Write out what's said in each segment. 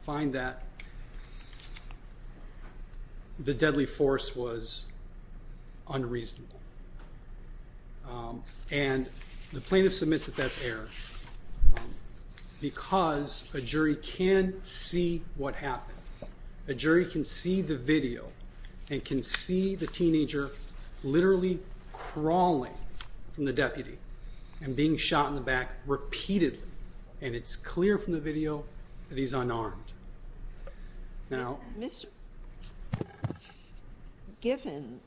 find that the deadly force was unreasonable and the plaintiff submits that that's error because a jury can see what happened. A jury can see the video and can see the teenager literally crawling from the deputy and being shot in the back repeatedly and it's clear from the video that he's unarmed. Given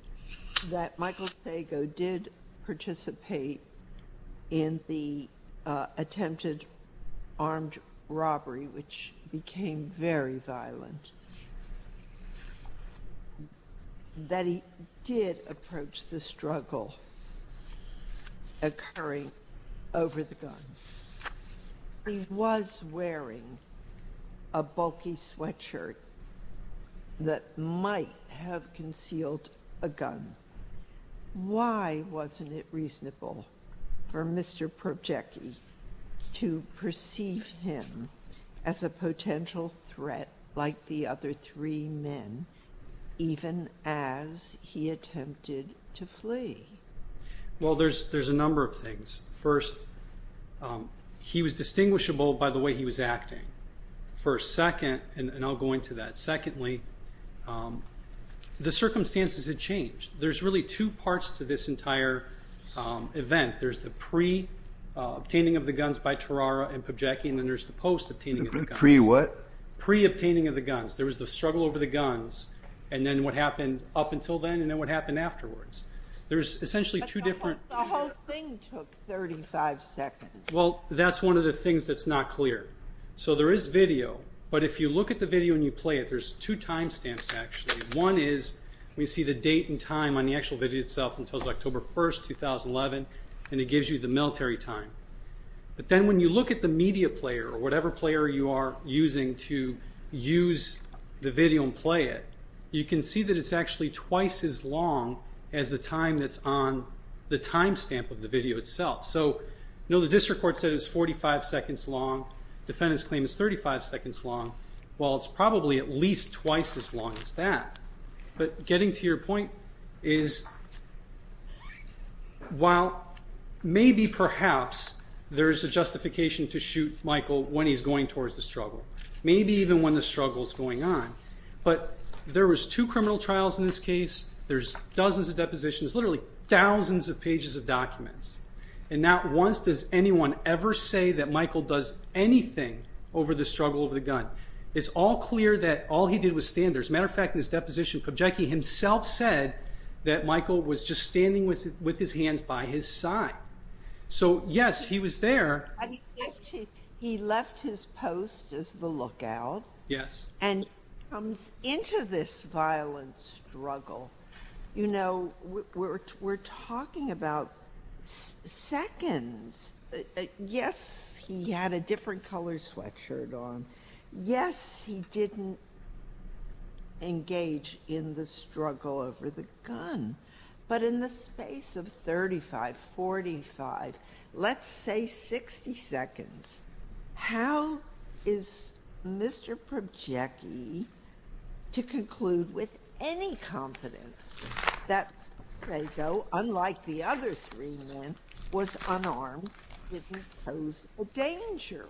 that Michael Thago did participate in the attempted armed robbery which became very violent that he did approach the struggle occurring over the gun. He was wearing a bulky sweatshirt that might have concealed a gun. Why wasn't it a threat like the other three men even as he attempted to flee? Well there's a number of things. First, he was distinguishable by the way he was acting. Secondly, the circumstances had changed. There's really two parts to this entire event. There's the pre-obtaining of the guns by Terrara and Pobjecky and then there's the post-obtaining. Pre-what? Pre-obtaining of the guns. There was the struggle over the guns and then what happened up until then and then what happened afterwards. There's essentially two different... But the whole thing took 35 seconds. Well that's one of the things that's not clear. So there is video but if you look at the video and you play it there's two time stamps actually. One is we see the date and time on the actual video itself until October 1st, 2011 and it gives you the military time. But then when you look at the media player or whatever player you are using to use the video and play it, you can see that it's actually twice as long as the time that's on the time stamp of the video itself. So you know the district court said it's 45 seconds long. Defendant's claim is 35 seconds long. Well it's probably at least that. But getting to your point is while maybe perhaps there's a justification to shoot Michael when he's going towards the struggle. Maybe even when the struggle is going on. But there was two criminal trials in this case. There's dozens of depositions. Literally thousands of pages of documents and not once does anyone ever say that Michael does anything over the struggle over the gun. It's all clear that all he did was stand there. As a matter of fact, in his deposition, Pubjiki himself said that Michael was just standing with his hands by his side. So yes, he was there. He left his post as the lookout and comes into this violent struggle. We're talking about seconds. Yes, he had a different color sweatshirt on. Yes, he didn't engage in the struggle over the gun. But in the space of 35, 45, let's say 60 seconds, how is Mr. Pubjiki to conclude with any confidence that Sago, unlike the other three men, was unarmed, didn't pose a danger?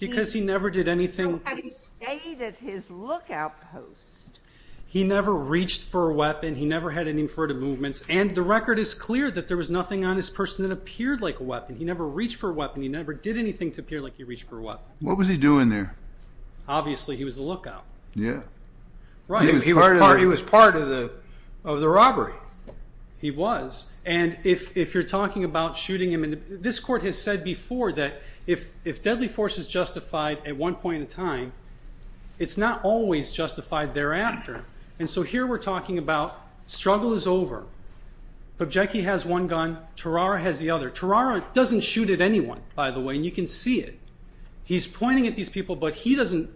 Because he never did anything. He stayed at his lookout post. He never reached for a weapon. He never had any furtive movements. And the record is clear that there was nothing on his person that appeared like a weapon. He never reached for a weapon. He never did anything to appear like he reached for a weapon. What was he doing there? Obviously he was on the lookout. Yes. He was part of the robbery. He was. And if you're talking about shooting him, this court has said before that if deadly force is justified at one point in time, it's not always justified thereafter. And so here we're talking about struggle is over. Pubjiki has one gun. Tarara has the other. Tarara doesn't shoot at anyone, by the way, and you can see it. He's pointing at these people, but he doesn't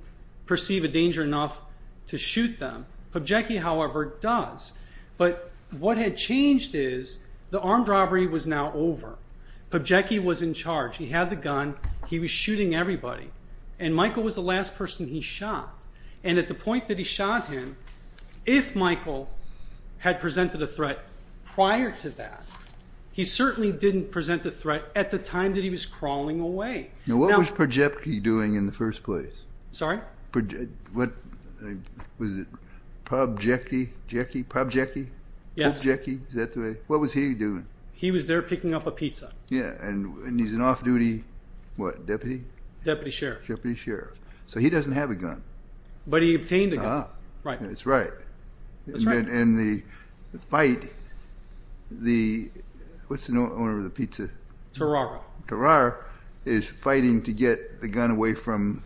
perceive a danger enough to shoot them. Pubjiki, however, does. But what had changed is the armed robbery was now over. Pubjiki was in charge. He had the gun. He was shooting everybody. And Michael was the last person he shot. And at the point that he shot him, if Michael had presented a threat prior to that, he certainly didn't present a threat at the time that he was crawling away. Now, what was Pubjiki doing in the first place? Sorry? Pubjiki? Pubjiki? Pubjiki? Pubjiki? Is that the way? What was he doing? He was there picking up a pizza. Yeah. And he's an off-duty what? Deputy? Deputy Sheriff. Deputy Sheriff. So he doesn't have a gun. But he fight the, what's the owner of the pizza? Tarara. Tarara is fighting to get the gun away from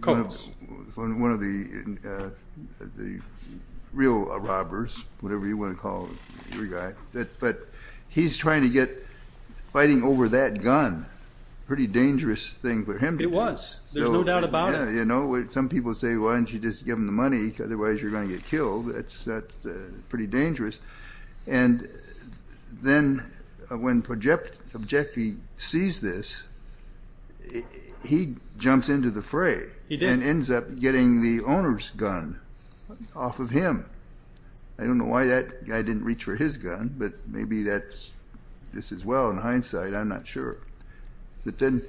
Coates. One of the real robbers, whatever you want to call your guy. But he's trying to get fighting over that gun. Pretty dangerous thing for him. It was. There's no doubt about it. Yeah, you know, some people say, why don't you just give him the money? Otherwise you're going to get killed. That's pretty dangerous. And then when Pubjiki sees this, he jumps into the fray. He did. And ends up getting the owner's gun off of him. I don't know why that guy didn't reach for his gun, but maybe that's just as well in hindsight. I'm not sure. But then,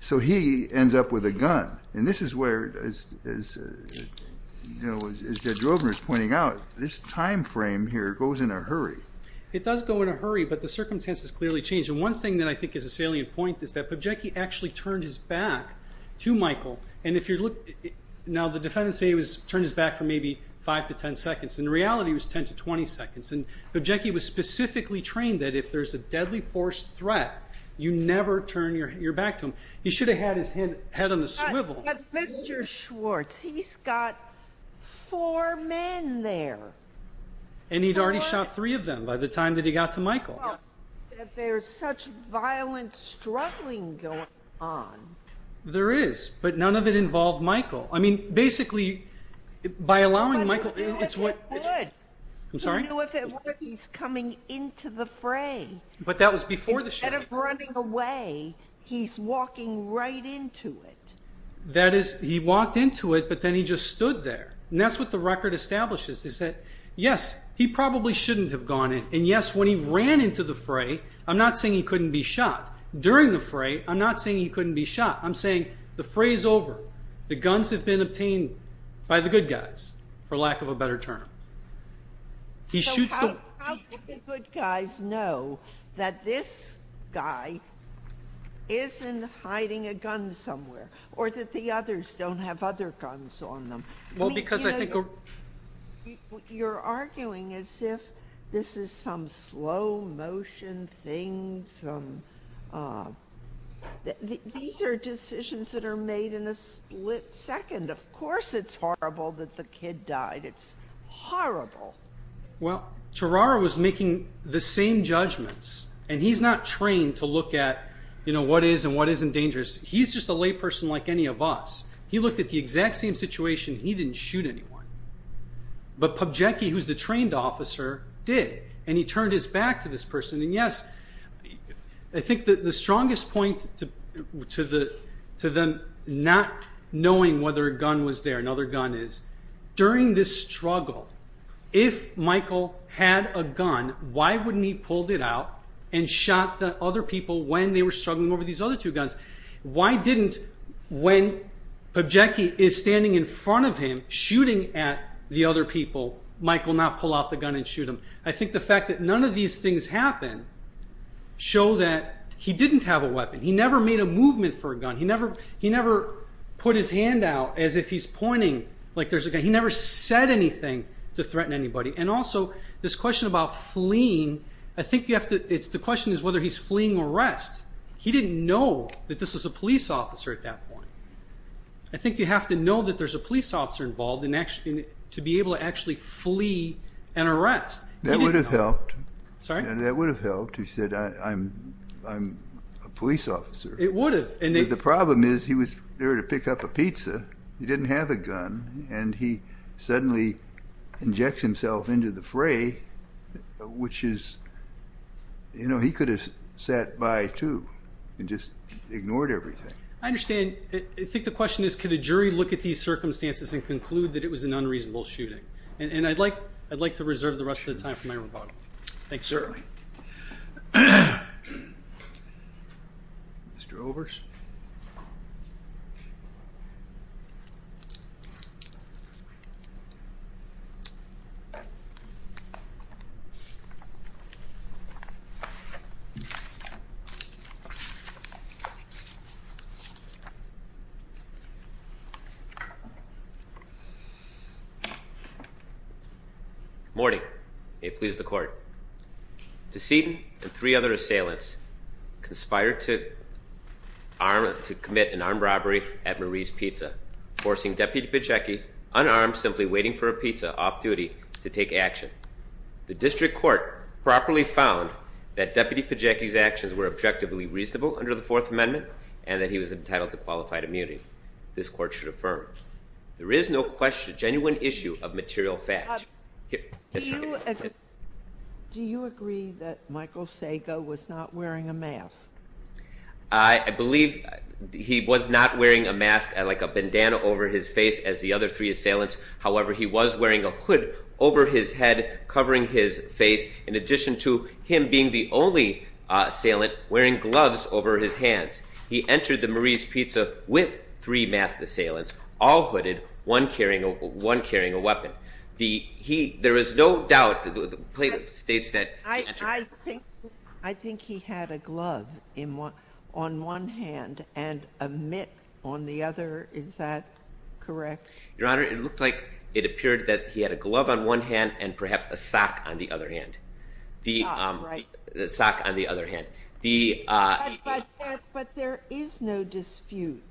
so he ends up with a gun. And this is where, as you know, as Judge Rovner is pointing out, this time frame here goes in a hurry. It does go in a hurry, but the circumstances clearly change. And one thing that I think is a salient point is that Pubjiki actually turned his back to Michael. And if you look, now the defendants say he turned his back for maybe five to 10 seconds. In reality, it was 10 to 20 seconds. And Pubjiki was specifically trained that if there's a deadly force threat, you never turn your back to him. He should have had his head on the swivel. But Mr. Schwartz, he's got four men there. And he'd already shot three of them by the time that he got to Michael. There's such violent struggling going on. There is, but none of it involved Michael. I mean, basically, by allowing Michael, it's what... I don't know if it would. I'm sorry? I don't know if it would. He's coming into the fray. But that was before the shot. Instead of running away, he's walking right into it. That is, he walked into it, but then he just stood there. And that's what the record establishes, is that, yes, he probably shouldn't have gone in. And yes, when he ran into the fray, I'm not saying he couldn't be shot. During the fray, I'm not saying he couldn't be shot. I'm saying the fray's over. The guns have been obtained by the good guys, for lack of a better term. So how would the good guys know that this guy isn't hiding a gun somewhere, or that the others don't have other guns on them? You're arguing as if this is some slow motion thing. These are decisions that are made in a split second. Of course, it's horrible that the kid died. It's horrible. Well, Tarara was making the same judgments. And he's not trained to look at what is and what isn't dangerous. He's just a layperson like any of us. He looked at the exact same situation. He didn't shoot anyone. But Pobjecki, who's the trained officer, did. And he turned his back to this person. And yes, I think that the strongest point to them not knowing whether a gun was there, another gun is, during this struggle, if Michael had a gun, why wouldn't he pulled it out and shot the other people when they were struggling over these other two guns? Why didn't, when Pobjecki is standing in front of him, shooting at the other people, Michael not pull out the gun and shoot him? I think the fact that none of these things happened show that he didn't have a weapon. He never made a movement for a gun. He never put his hand out as if he's pointing like there's a gun. He never said anything to threaten anybody. And also, this question about fleeing, I think you have to, it's the question is whether he's fleeing arrest. He didn't know that this was a police officer at that point. I think you have to know that there's a police officer involved to be able to actually flee an arrest. That would have helped. Sorry? That would have helped. He said, I'm a police officer. It would have. The problem is he was there to pick up a pizza. He didn't have a gun. And he suddenly injects himself into the fray, which is, you know, he could have sat by too and just ignored everything. I understand. I think the question is, could a jury look at these circumstances and conclude that it was an unreasonable shooting? And I'd like to reserve the rest of the time for my rebuttal. Thanks, sir. Mr. Overs? Good morning. May it please the court. Deceit and three other assailants conspired to commit an armed robbery at Marie's Pizza, forcing Deputy Pacecki, unarmed, simply waiting for a pizza off duty to take action. The district court properly found that Deputy Pacecki's actions were objectively reasonable under the fourth amendment and that he was entitled to qualified immunity. This court should affirm. There is no question, genuine issue of material facts. Do you agree that Michael Sago was not wearing a mask? I believe he was not wearing a mask, like a bandana over his face, as the other three assailants. However, he was wearing a hood over his head, covering his face, in addition to him being the only assailant wearing gloves over his hands. He entered the Marie's Pizza with three masked assailants, all hooded, one carrying a weapon. I think he had a glove on one hand and a mitt on the other. Is that correct? Your Honor, it looked like it appeared that he had a glove on one hand and perhaps a sock on the other hand. But there is no dispute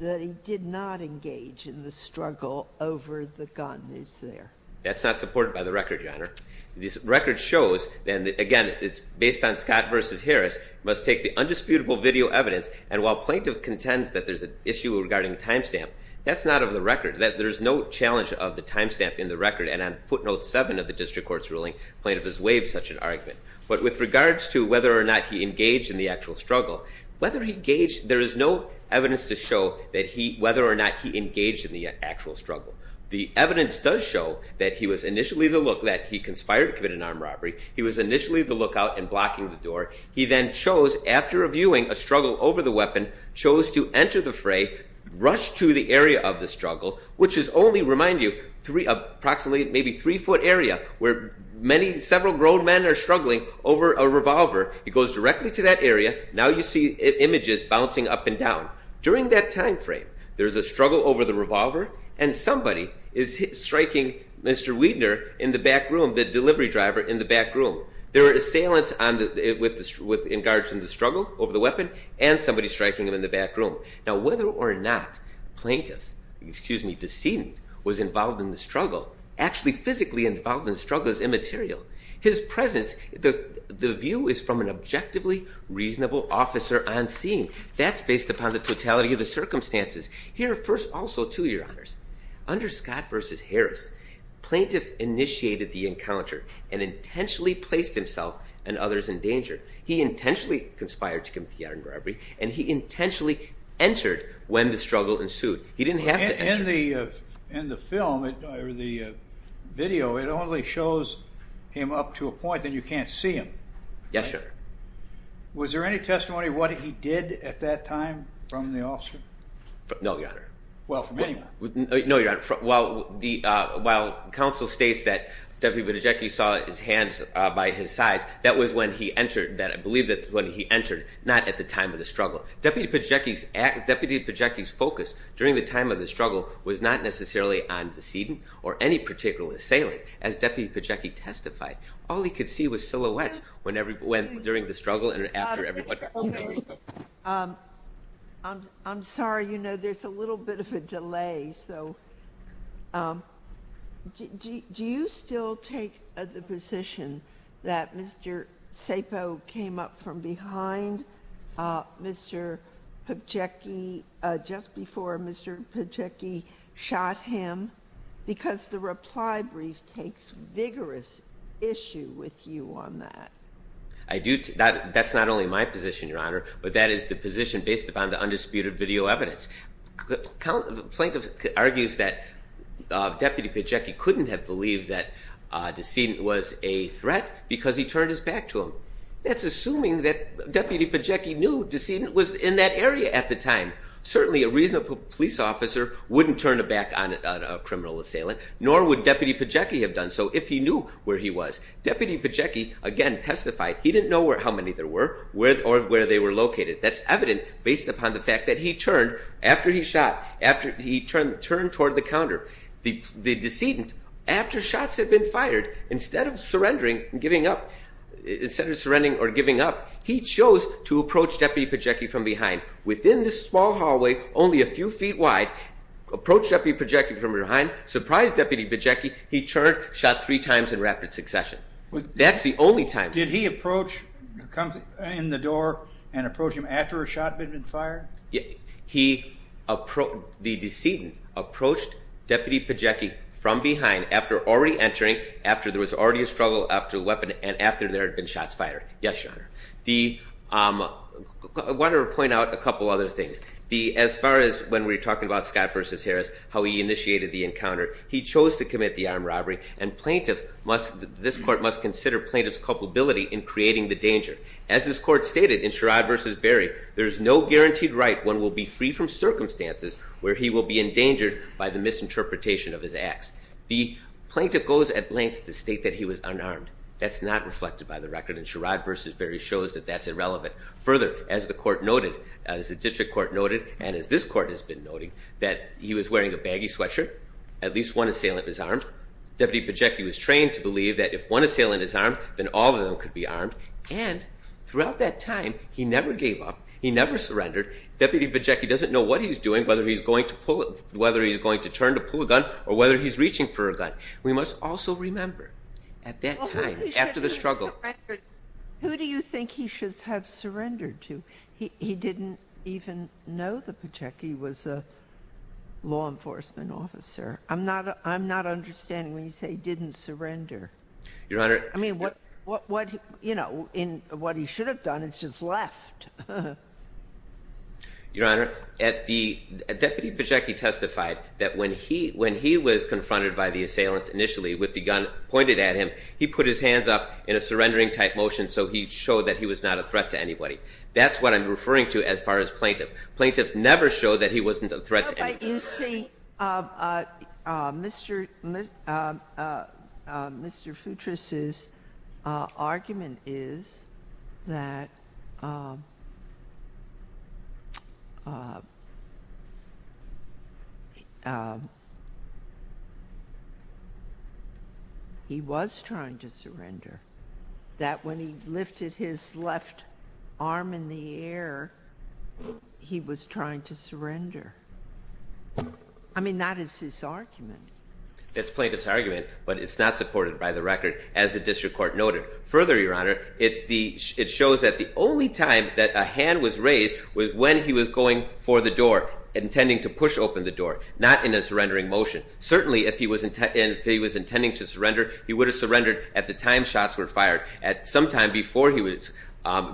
that he did not engage in the struggle over the gun, is there? That's not supported by the record, Your Honor. This record shows, and again, it's based on Scott v. Harris, must take the undisputable video evidence and while plaintiff contends that there's an issue regarding timestamp, that's not of the record, that there's no challenge of the timestamp in the record and on footnote seven of the district court's ruling, plaintiff has waived such an argument. But with regards to whether or not he engaged in the actual struggle, whether he engaged, there is no evidence to show that he, whether or not he engaged in the actual struggle. The evidence does show that he was initially the look, that he conspired to commit an armed robbery. He was initially the lookout and blocking the door. He then chose, after reviewing a struggle over the weapon, chose to enter the fray, rushed to the area of the struggle, which is only, remind you, three, approximately, maybe three foot area, where many, several grown men are struggling over a revolver. He goes directly to that area. Now you see images bouncing up and down. During that time frame, there's a struggle over the revolver and somebody is striking Mr. Wiedner in the back room, the delivery driver in the back room. There is silence on the, with the, in regards to the struggle over the weapon and somebody striking him in the back room. Now, whether or not plaintiff, excuse me, the scene was involved in the struggle, actually physically involved in struggles immaterial. His presence, the view is from an objectively reasonable officer on scene. That's based upon the totality of the circumstances. Here are first also two, your honors. Under Scott versus Harris, plaintiff initiated the encounter and intentionally placed himself and others in danger. He intentionally conspired to commit the armed robbery and he intentionally entered when the struggle ensued. He didn't have to enter. In the film, or the video, it only shows him up to a point that you can't see him. Yes, your honor. Was there any testimony what he did at that time from the officer? No, your honor. Well, from anyone? No, your honor. While the, while counsel states that Deputy Pacecki saw his hands by his sides, that was when he entered, that I believe that's when he entered, not at the time of the struggle. Deputy Pacecki's act, Deputy Pacecki's focus during the time of the struggle was not necessarily on the decedent or any particular assailant. As Deputy Pacecki testified, all he could see was silhouettes whenever, when, during the struggle and after everybody. I'm sorry, you know, there's a little bit of a delay. So do you still take the position that Mr. Sapo came up from behind Mr. Pacecki just before Mr. Pacecki shot him? Because the reply brief takes vigorous issue with you on that. I do, that's not only my position, your honor, but that is the position based upon the undisputed video evidence. The plaintiff argues that Deputy Pacecki couldn't have believed that a decedent was a threat because he turned his back to him. That's assuming that Deputy Pacecki knew decedent was in that area at the time. Certainly a reasonable police officer wouldn't turn a back on a criminal assailant, nor would Deputy Pacecki have done so if he knew where he was. Deputy Pacecki, again, testified he didn't know how many there were or where they were located. That's evident based upon the fact that he turned after he shot, after he turned toward the counter. The decedent, after shots had been fired, instead of surrendering or giving up, he chose to approach Deputy Pacecki from behind. Within this small hallway, only a few feet wide, approached Deputy Pacecki from behind, surprised Deputy Pacecki, he turned, shot three times in rapid succession. That's the only time. Did he approach, come in the door and approach him after a shot had been fired? He approached, the decedent approached Deputy Pacecki from behind after already entering, after there was already a struggle after the weapon and after there had been shots fired. Yes, Your Honor. I want to point out a couple other things. As far as when we're talking about Scott versus Harris, how he initiated the encounter, he chose to commit the armed robbery and plaintiff must, this court must consider plaintiff's culpability in creating the danger. As this court stated in Sherrod versus Barry, there's no guaranteed right one will be free from circumstances where he will be endangered by the misinterpretation of his acts. The plaintiff goes at lengths to state that he was unarmed. That's not reflected by the record and Sherrod versus Barry shows that that's irrelevant. Further, as the court noted, as the district court noted, and as this court has been noting, that he was wearing a baggy sweatshirt, at least one assailant is armed. Deputy Pacecki was trained to believe that if one assailant is armed, then all of them could be armed. And throughout that time, he never gave up. He never surrendered. Deputy Pacecki doesn't know what he's doing, whether he's going to pull, whether he's going to turn to pull a gun or whether he's reaching for a gun. We must also remember at that time after the struggle. Who do you think he should have surrendered to? He didn't even know that Pacecki was a law enforcement officer. I'm not understanding when you say he didn't surrender. I mean, what he should have done is just left. Your Honor, Deputy Pacecki testified that when he was confronted by the assailants initially with the gun pointed at him, he put his hands up in a surrendering type motion so he showed that he was not a threat to anybody. That's what I'm referring to as far as plaintiff. Plaintiff never showed that he wasn't a threat to anybody. But you see, Mr. Futris's argument is that he was trying to surrender. That when he lifted his left arm in the air, he was trying to surrender. I mean, that is his argument. That's plaintiff's argument, but it's not supported by the record, as the district court noted. Further, Your Honor, it shows that the only time that a hand was raised was when he was going for the door, intending to push open the door, not in a surrendering motion. Certainly, if he was intending to surrender, he would have surrendered at the time shots were fired. At some time before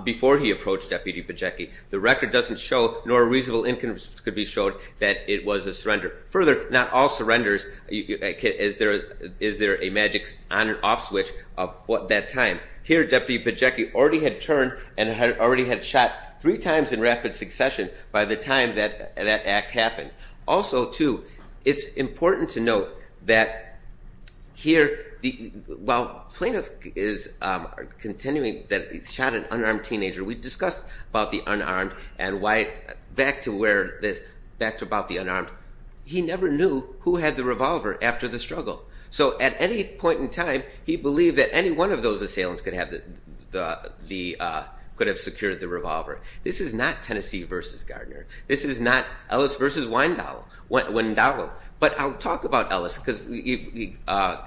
before he approached Deputy Pacecki. The record doesn't show, nor reasonable income could be showed, that it was a surrender. Further, not all surrenders, is there a magic on and off switch of that time. Here, Deputy Pacecki already had turned and had already had shot three times in rapid succession by the time that that act happened. Also, too, it's important to note that here, while plaintiff is continuing that he shot an unarmed teenager, we discussed about the unarmed and why, back to where this, back to about the unarmed, he never knew who had the revolver after the struggle. So at any point in time, he believed that any one of those assailants could have the, could have secured the revolver. This is not Tennessee versus Gardner. This is not versus Weindauer. But I'll talk about Ellis, because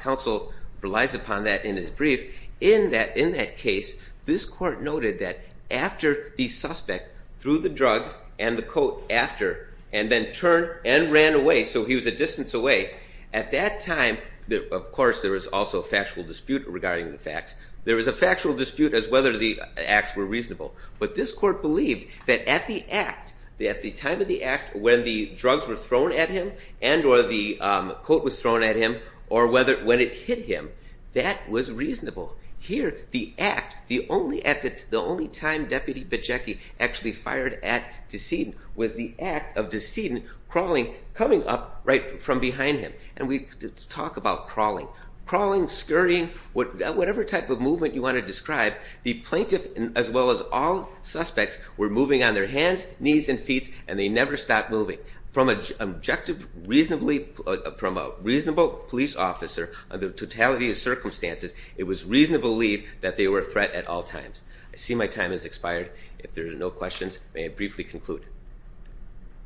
counsel relies upon that in his brief. In that case, this court noted that after the suspect threw the drugs and the coat after, and then turned and ran away, so he was a distance away, at that time, of course, there was also a factual dispute regarding the facts. There was a factual dispute as whether the acts were reasonable. But this court believed that at the act, at the time of the act, when the drugs were thrown at him and or the coat was thrown at him or whether, when it hit him, that was reasonable. Here, the act, the only at the, the only time Deputy Pacecki actually fired at Deceden was the act of Deceden crawling, coming up right from behind him. And we talk about crawling, scurrying, whatever type of movement you want to describe, the plaintiff, as well as all suspects, were moving on their hands, knees, and feet, and they never stopped moving. From an objective, reasonably, from a reasonable police officer, under totality of circumstances, it was reasonable to believe that they were a threat at all times. I see my time has expired. If there are no questions, may I briefly conclude?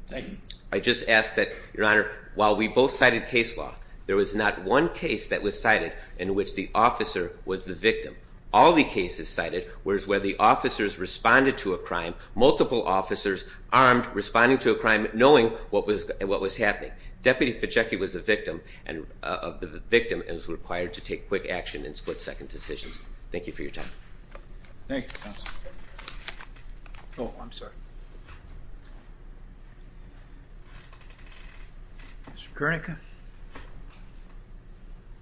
Thank you. I just ask that, Your Honor, while we both cited case law, there was not one case that was cited in which the officer was the victim. All the cases cited was where the officers responded to a crime, multiple officers armed, responding to a crime, knowing what was, what was happening. Deputy Pacecki was a victim and, of the victim, and was required to take quick action and split second decisions. Thank you for your time. Thank you, Your Honor. Good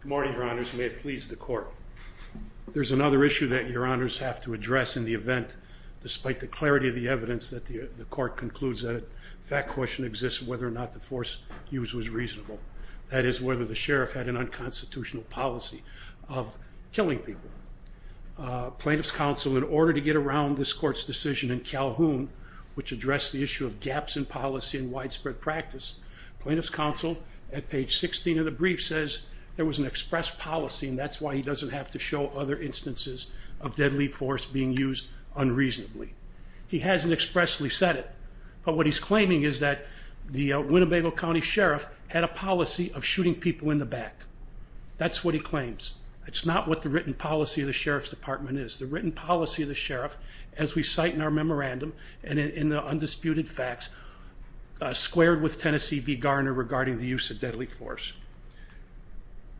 morning, Your Honors. May it please the Court. There's another issue that Your Honors have to address in the event, despite the clarity of the evidence, that the Court concludes that a fact question exists whether or not the force used was reasonable. That is whether the sheriff had an unconstitutional policy of killing people. Plaintiff's counsel, in order to get around this Court's decision in Calhoun, which addressed the issue of gaps in policy and says there was an express policy and that's why he doesn't have to show other instances of deadly force being used unreasonably. He hasn't expressly said it, but what he's claiming is that the Winnebago County Sheriff had a policy of shooting people in the back. That's what he claims. It's not what the written policy of the Sheriff's Department is. The written policy of the sheriff, as we cite in our memorandum and in the undisputed facts, squared with Tennessee v. Force.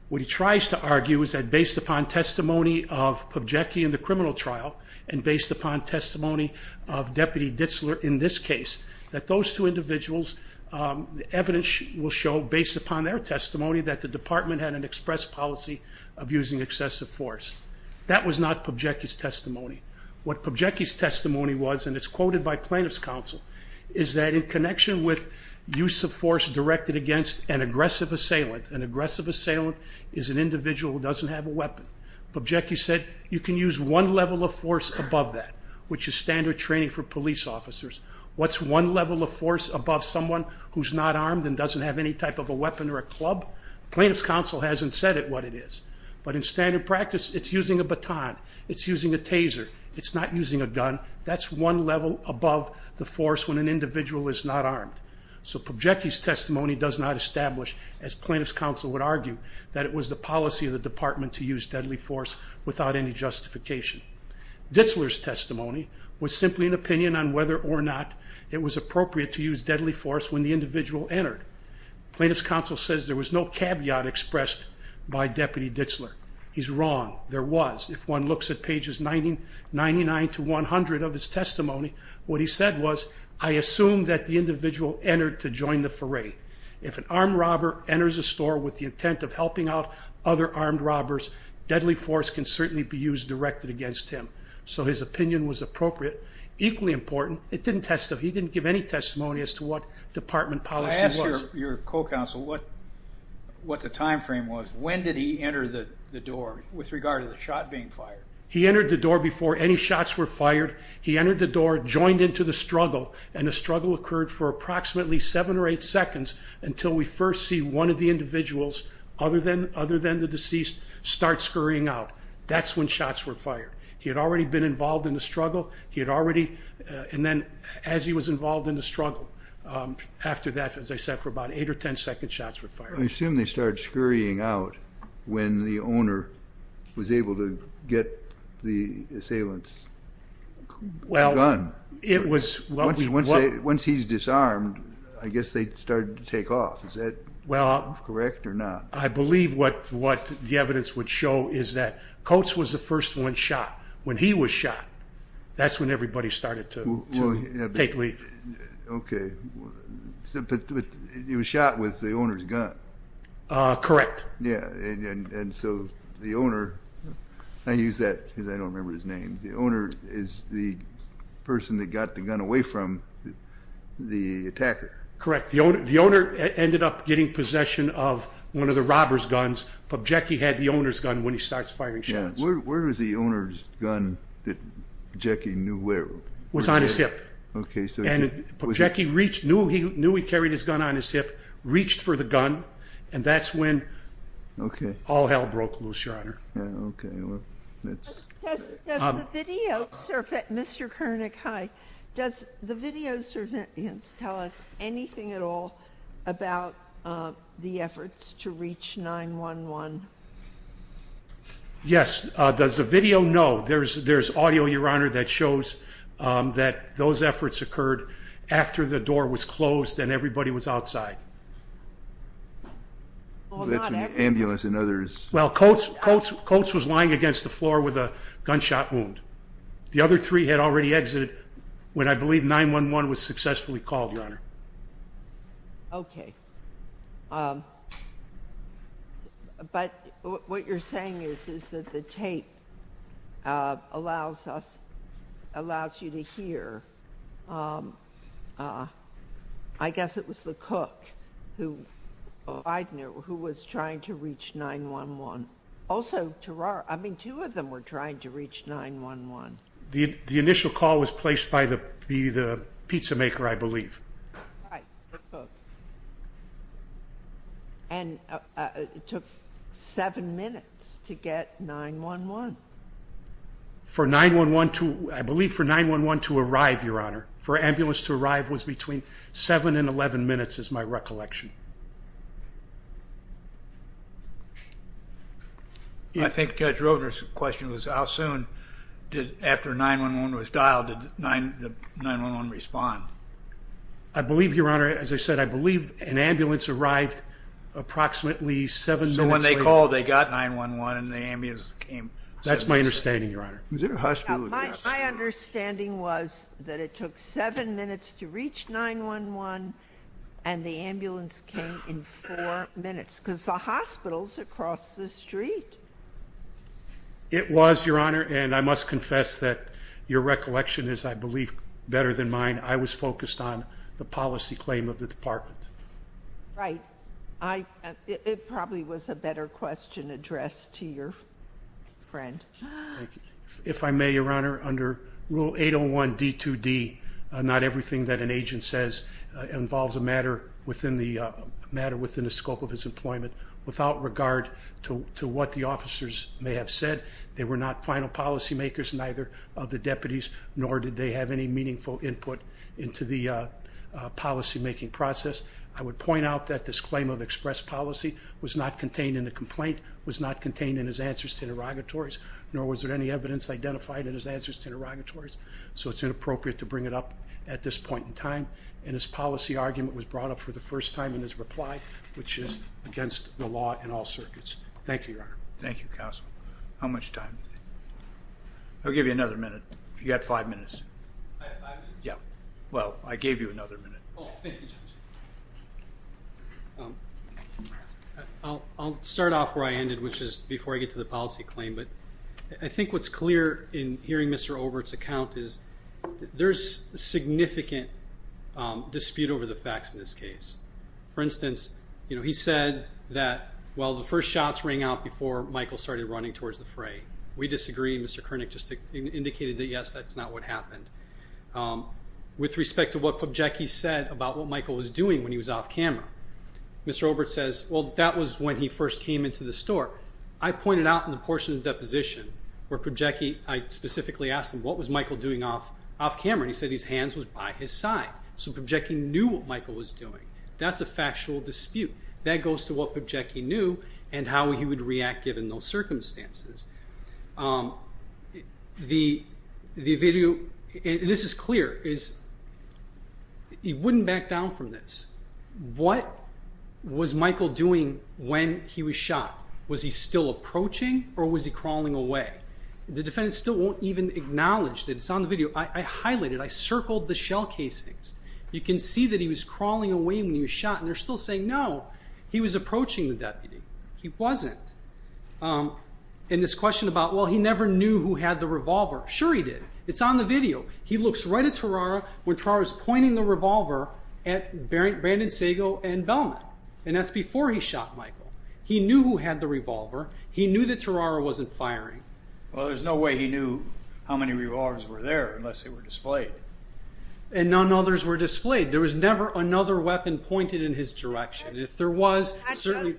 What he tries to argue is that based upon testimony of Pubjecky in the criminal trial and based upon testimony of Deputy Ditzler in this case, that those two individuals, the evidence will show, based upon their testimony, that the department had an express policy of using excessive force. That was not Pubjecky's testimony. What Pubjecky's testimony was, and it's quoted by plaintiff's counsel, is that in connection with use of force directed against an aggressive assailant, an aggressive assailant is an individual who doesn't have a weapon, Pubjecky said you can use one level of force above that, which is standard training for police officers. What's one level of force above someone who's not armed and doesn't have any type of a weapon or a club? Plaintiff's counsel hasn't said it what it is, but in standard practice it's using a baton, it's using a taser, it's not using a gun. That's one level above the force when an as plaintiff's counsel would argue that it was the policy of the department to use deadly force without any justification. Ditzler's testimony was simply an opinion on whether or not it was appropriate to use deadly force when the individual entered. Plaintiff's counsel says there was no caveat expressed by Deputy Ditzler. He's wrong. There was. If one looks at pages 99 to 100 of his testimony, he says, if an armed robber enters a store with the intent of helping out other armed robbers, deadly force can certainly be used directed against him. So his opinion was appropriate. Equally important, he didn't give any testimony as to what department policy was. I asked your co-counsel what the time frame was. When did he enter the door with regard to the shot being fired? He entered the door before any shots were fired. He entered the door, joined into the struggle, and the struggle occurred for approximately seven or eight seconds until we first see one of the individuals, other than the deceased, start scurrying out. That's when shots were fired. He had already been involved in the struggle. He had already, and then as he was involved in the struggle, after that, as I said, for about eight or ten second shots were fired. I assume they once he's disarmed, I guess they started to take off. Is that correct or not? I believe what the evidence would show is that Coates was the first one shot. When he was shot, that's when everybody started to take leave. He was shot with the owner's gun. Correct. Yeah. And so the owner, I use that because I don't remember his name. The owner is the the attacker. Correct. The owner ended up getting possession of one of the robber's guns, but Jackie had the owner's gun when he starts firing shots. Where was the owner's gun that Jackie knew where it was? Was on his hip. Okay. And Jackie knew he carried his gun on his hip, reached for the gun, and that's when all hell broke loose, Your Honor. Yeah, okay. Does the video, Mr. Koenig, hi, does the video tell us anything at all about the efforts to reach 9-1-1? Yes. Does the video? No. There's audio, Your Honor, that shows that those efforts occurred after the door was closed and everybody was outside. Ambulance and others. Well, Coats was lying against the floor with a gunshot wound. The other three had already exited when I believe 9-1-1 was successfully called, Your Honor. Okay. But what you're saying is that the tape allows us, allows you to hear. I guess it was the cook who was trying to reach 9-1-1. Also, two of them were trying to reach 9-1-1. The initial call was placed by the pizza maker, I believe. Right. And it took seven minutes to get 9-1-1. For 9-1-1 to, I believe for 9-1-1 to arrive, Your Honor, for an ambulance to arrive was between seven and 11 minutes is my recollection. I think Judge Roedner's question was how soon did, after 9-1-1 was dialed, did 9-1-1 respond? I believe, Your Honor, as I said, I believe an ambulance arrived approximately seven minutes later. So when they called, they got 9-1-1 and the ambulance came. That's my understanding, Your Honor. My understanding was that it took seven minutes to reach 9-1-1 and the ambulance came in four minutes because the hospital's across the street. It was, Your Honor, and I must confess that your recollection is, I believe, better than mine. I was focused on the policy claim of the department. Right. It probably was a better question addressed to your friend. If I may, Your Honor, under Rule 801 D2D, not everything that an agent says involves a matter within the scope of his employment. Without regard to what the officers may have said, they were not final policymakers, neither of the deputies, nor did they have any meaningful input into the policymaking process. I would point out that this claim of express policy was not contained in the complaint, was not contained in his answers to interrogatories, nor was there any evidence identified in his answers to interrogatories. So it's inappropriate to bring it up at this point in time. And his policy argument was brought up for the first time in his reply, which is against the law in all circuits. Thank you, Your Honor. Thank you, Counsel. How much time? I'll give you another minute. You got five minutes. I have five minutes. Yeah. Well, I gave you another minute. Oh, thank you, Judge. I'll start off where I ended, which is before I get to the policy claim. But I think what's clear in hearing Mr. Overt's account is there's significant dispute over the facts in this case. For instance, you know, he said that, well, the first shots rang out before Michael started running towards the fray. We disagree. Mr. Koenig just indicated that, yes, that's not what happened. With respect to what Pobjecki said about what Michael was doing when he was off camera, Mr. Overt says, well, that was when he first came into the store. I pointed out in the portion of the deposition where Pobjecki, I specifically asked him, what was Michael doing off camera? And he said his hands was by his side. So Pobjecki knew what Michael was doing. That's a factual dispute. That goes to what Pobjecki knew and how he would react given those circumstances. The video, and this is clear, is he wouldn't back down from this. What was Michael doing when he was shot? Was he still approaching or was he crawling away? The defendant still won't even acknowledge that it's on the video. I highlighted, I circled the shell casings. You can see that he was crawling away when he was shot. And they're still saying, no, he was approaching the deputy. He wasn't. And this question about, well, he never knew who had the revolver. Sure he did. It's on the video. He looks right at Tarara when Tarara's pointing the revolver at Brandon Sago and Bellman. And that's before he shot Michael. He knew who had the revolver. He knew that Tarara wasn't firing. Well, there's no way he knew how many revolvers were there unless they were displayed. And none others were displayed. There was never another weapon pointed in his direction. If there was, certainly.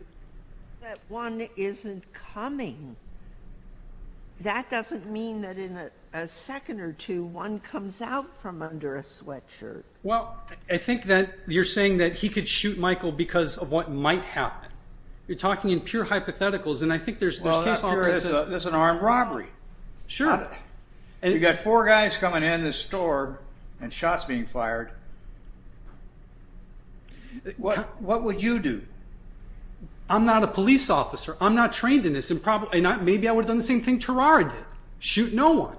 That one isn't coming. That doesn't mean that in a second or two, one comes out from under a sweatshirt. Well, I think that you're saying that he could shoot Michael because of what might happen. You're talking in pure hypotheticals. And I think there's an armed robbery. Sure. And you've got four guys coming in this store and shots being fired. What would you do? I'm not a police officer. I'm not trained in this. And maybe I would've done the same thing Tarara did. Shoot no one.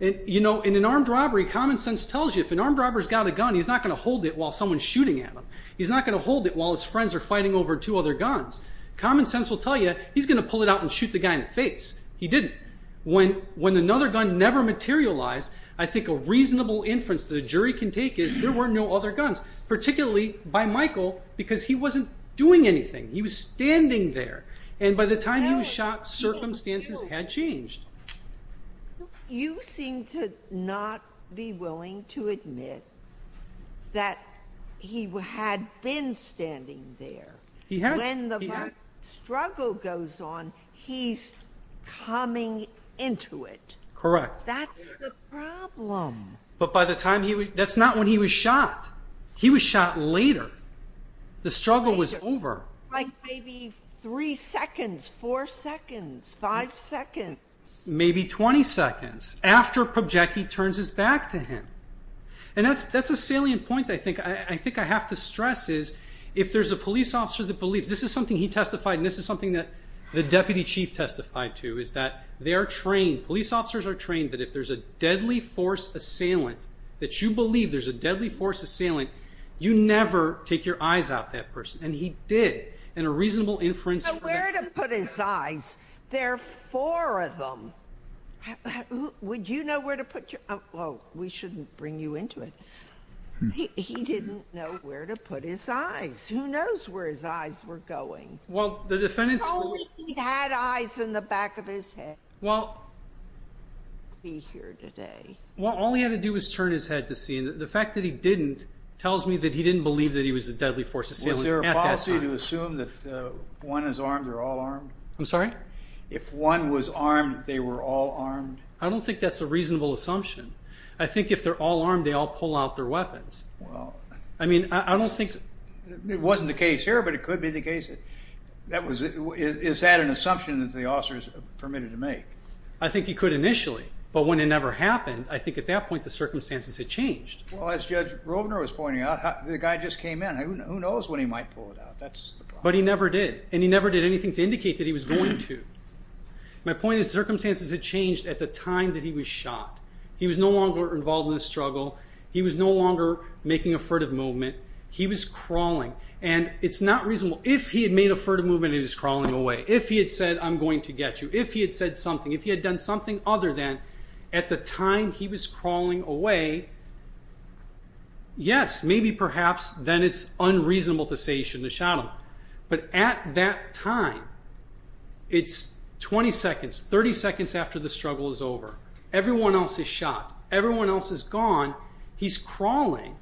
And in an armed robbery, common sense tells you if an armed robber's got a gun, he's not going to hold it while someone's shooting at him. He's not going to hold it while his friends are fighting over two other guns. Common sense will tell you he's going to pull it out and shoot the guy in the face. He didn't. When another gun never materialized, I think a reasonable inference that a jury can do is there were no other guns, particularly by Michael, because he wasn't doing anything. He was standing there. And by the time he was shot, circumstances had changed. You seem to not be willing to admit that he had been standing there. He had. When the struggle goes on, he's coming into it. Correct. That's the problem. But by the time he was... That's not when he was shot. He was shot later. The struggle was over. Like maybe three seconds, four seconds, five seconds. Maybe 20 seconds. After Pobjecki turns his back to him. And that's a salient point I think I have to stress is if there's a police officer that believes... This is something he testified and this is something that the deputy chief testified to is that they are trained, police officers are trained that if there's a deadly force, that you believe there's a deadly force assailant, you never take your eyes out that person. And he did. And a reasonable inference... But where to put his eyes? There are four of them. Would you know where to put your... Well, we shouldn't bring you into it. He didn't know where to put his eyes. Who knows where his eyes were going? Well, the defendants... If only he had eyes in the back of his head. Well... He'd be here today. Well, all he had to do was turn his head to see. And the fact that he didn't tells me that he didn't believe that he was a deadly force assailant at that time. Was there a policy to assume that one is armed or all armed? I'm sorry? If one was armed, they were all armed? I don't think that's a reasonable assumption. I think if they're all armed, they all pull out their weapons. Well... I mean, I don't think... It wasn't the case here, but it could be the case. Is that an assumption that the officers permitted to make? I think he could initially. But when it never happened, I think at that point the circumstances had changed. Well, as Judge Rovner was pointing out, the guy just came in. Who knows when he might pull it out? But he never did. And he never did anything to indicate that he was going to. My point is circumstances had changed at the time that he was shot. He was no longer involved in a struggle. He was no longer making a furtive movement. He was crawling. And it's not reasonable. If he had made a furtive movement, he was crawling away. If he had said, I'm going to get you. If he had said something. If he had done something other than at the time he was crawling away, yes, maybe perhaps then it's unreasonable to say he shouldn't have shot him. But at that time, it's 20 seconds, 30 seconds after the struggle is over. Everyone else is shot. Everyone else is gone. He's crawling.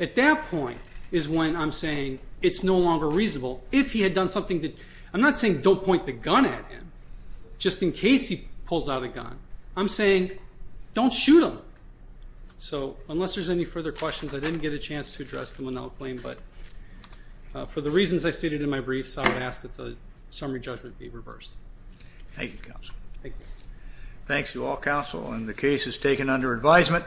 At that point is when I'm saying it's no longer reasonable. If he had done something that... I'm not saying don't point the gun at him. Just in case he pulls out a gun. I'm saying don't shoot him. So unless there's any further questions, I didn't get a chance to address the Monell claim. But for the reasons I stated in my brief, so I would ask that the summary judgment be reversed. Thank you, Counsel. Thanks to all counsel. And the case is taken under advisement.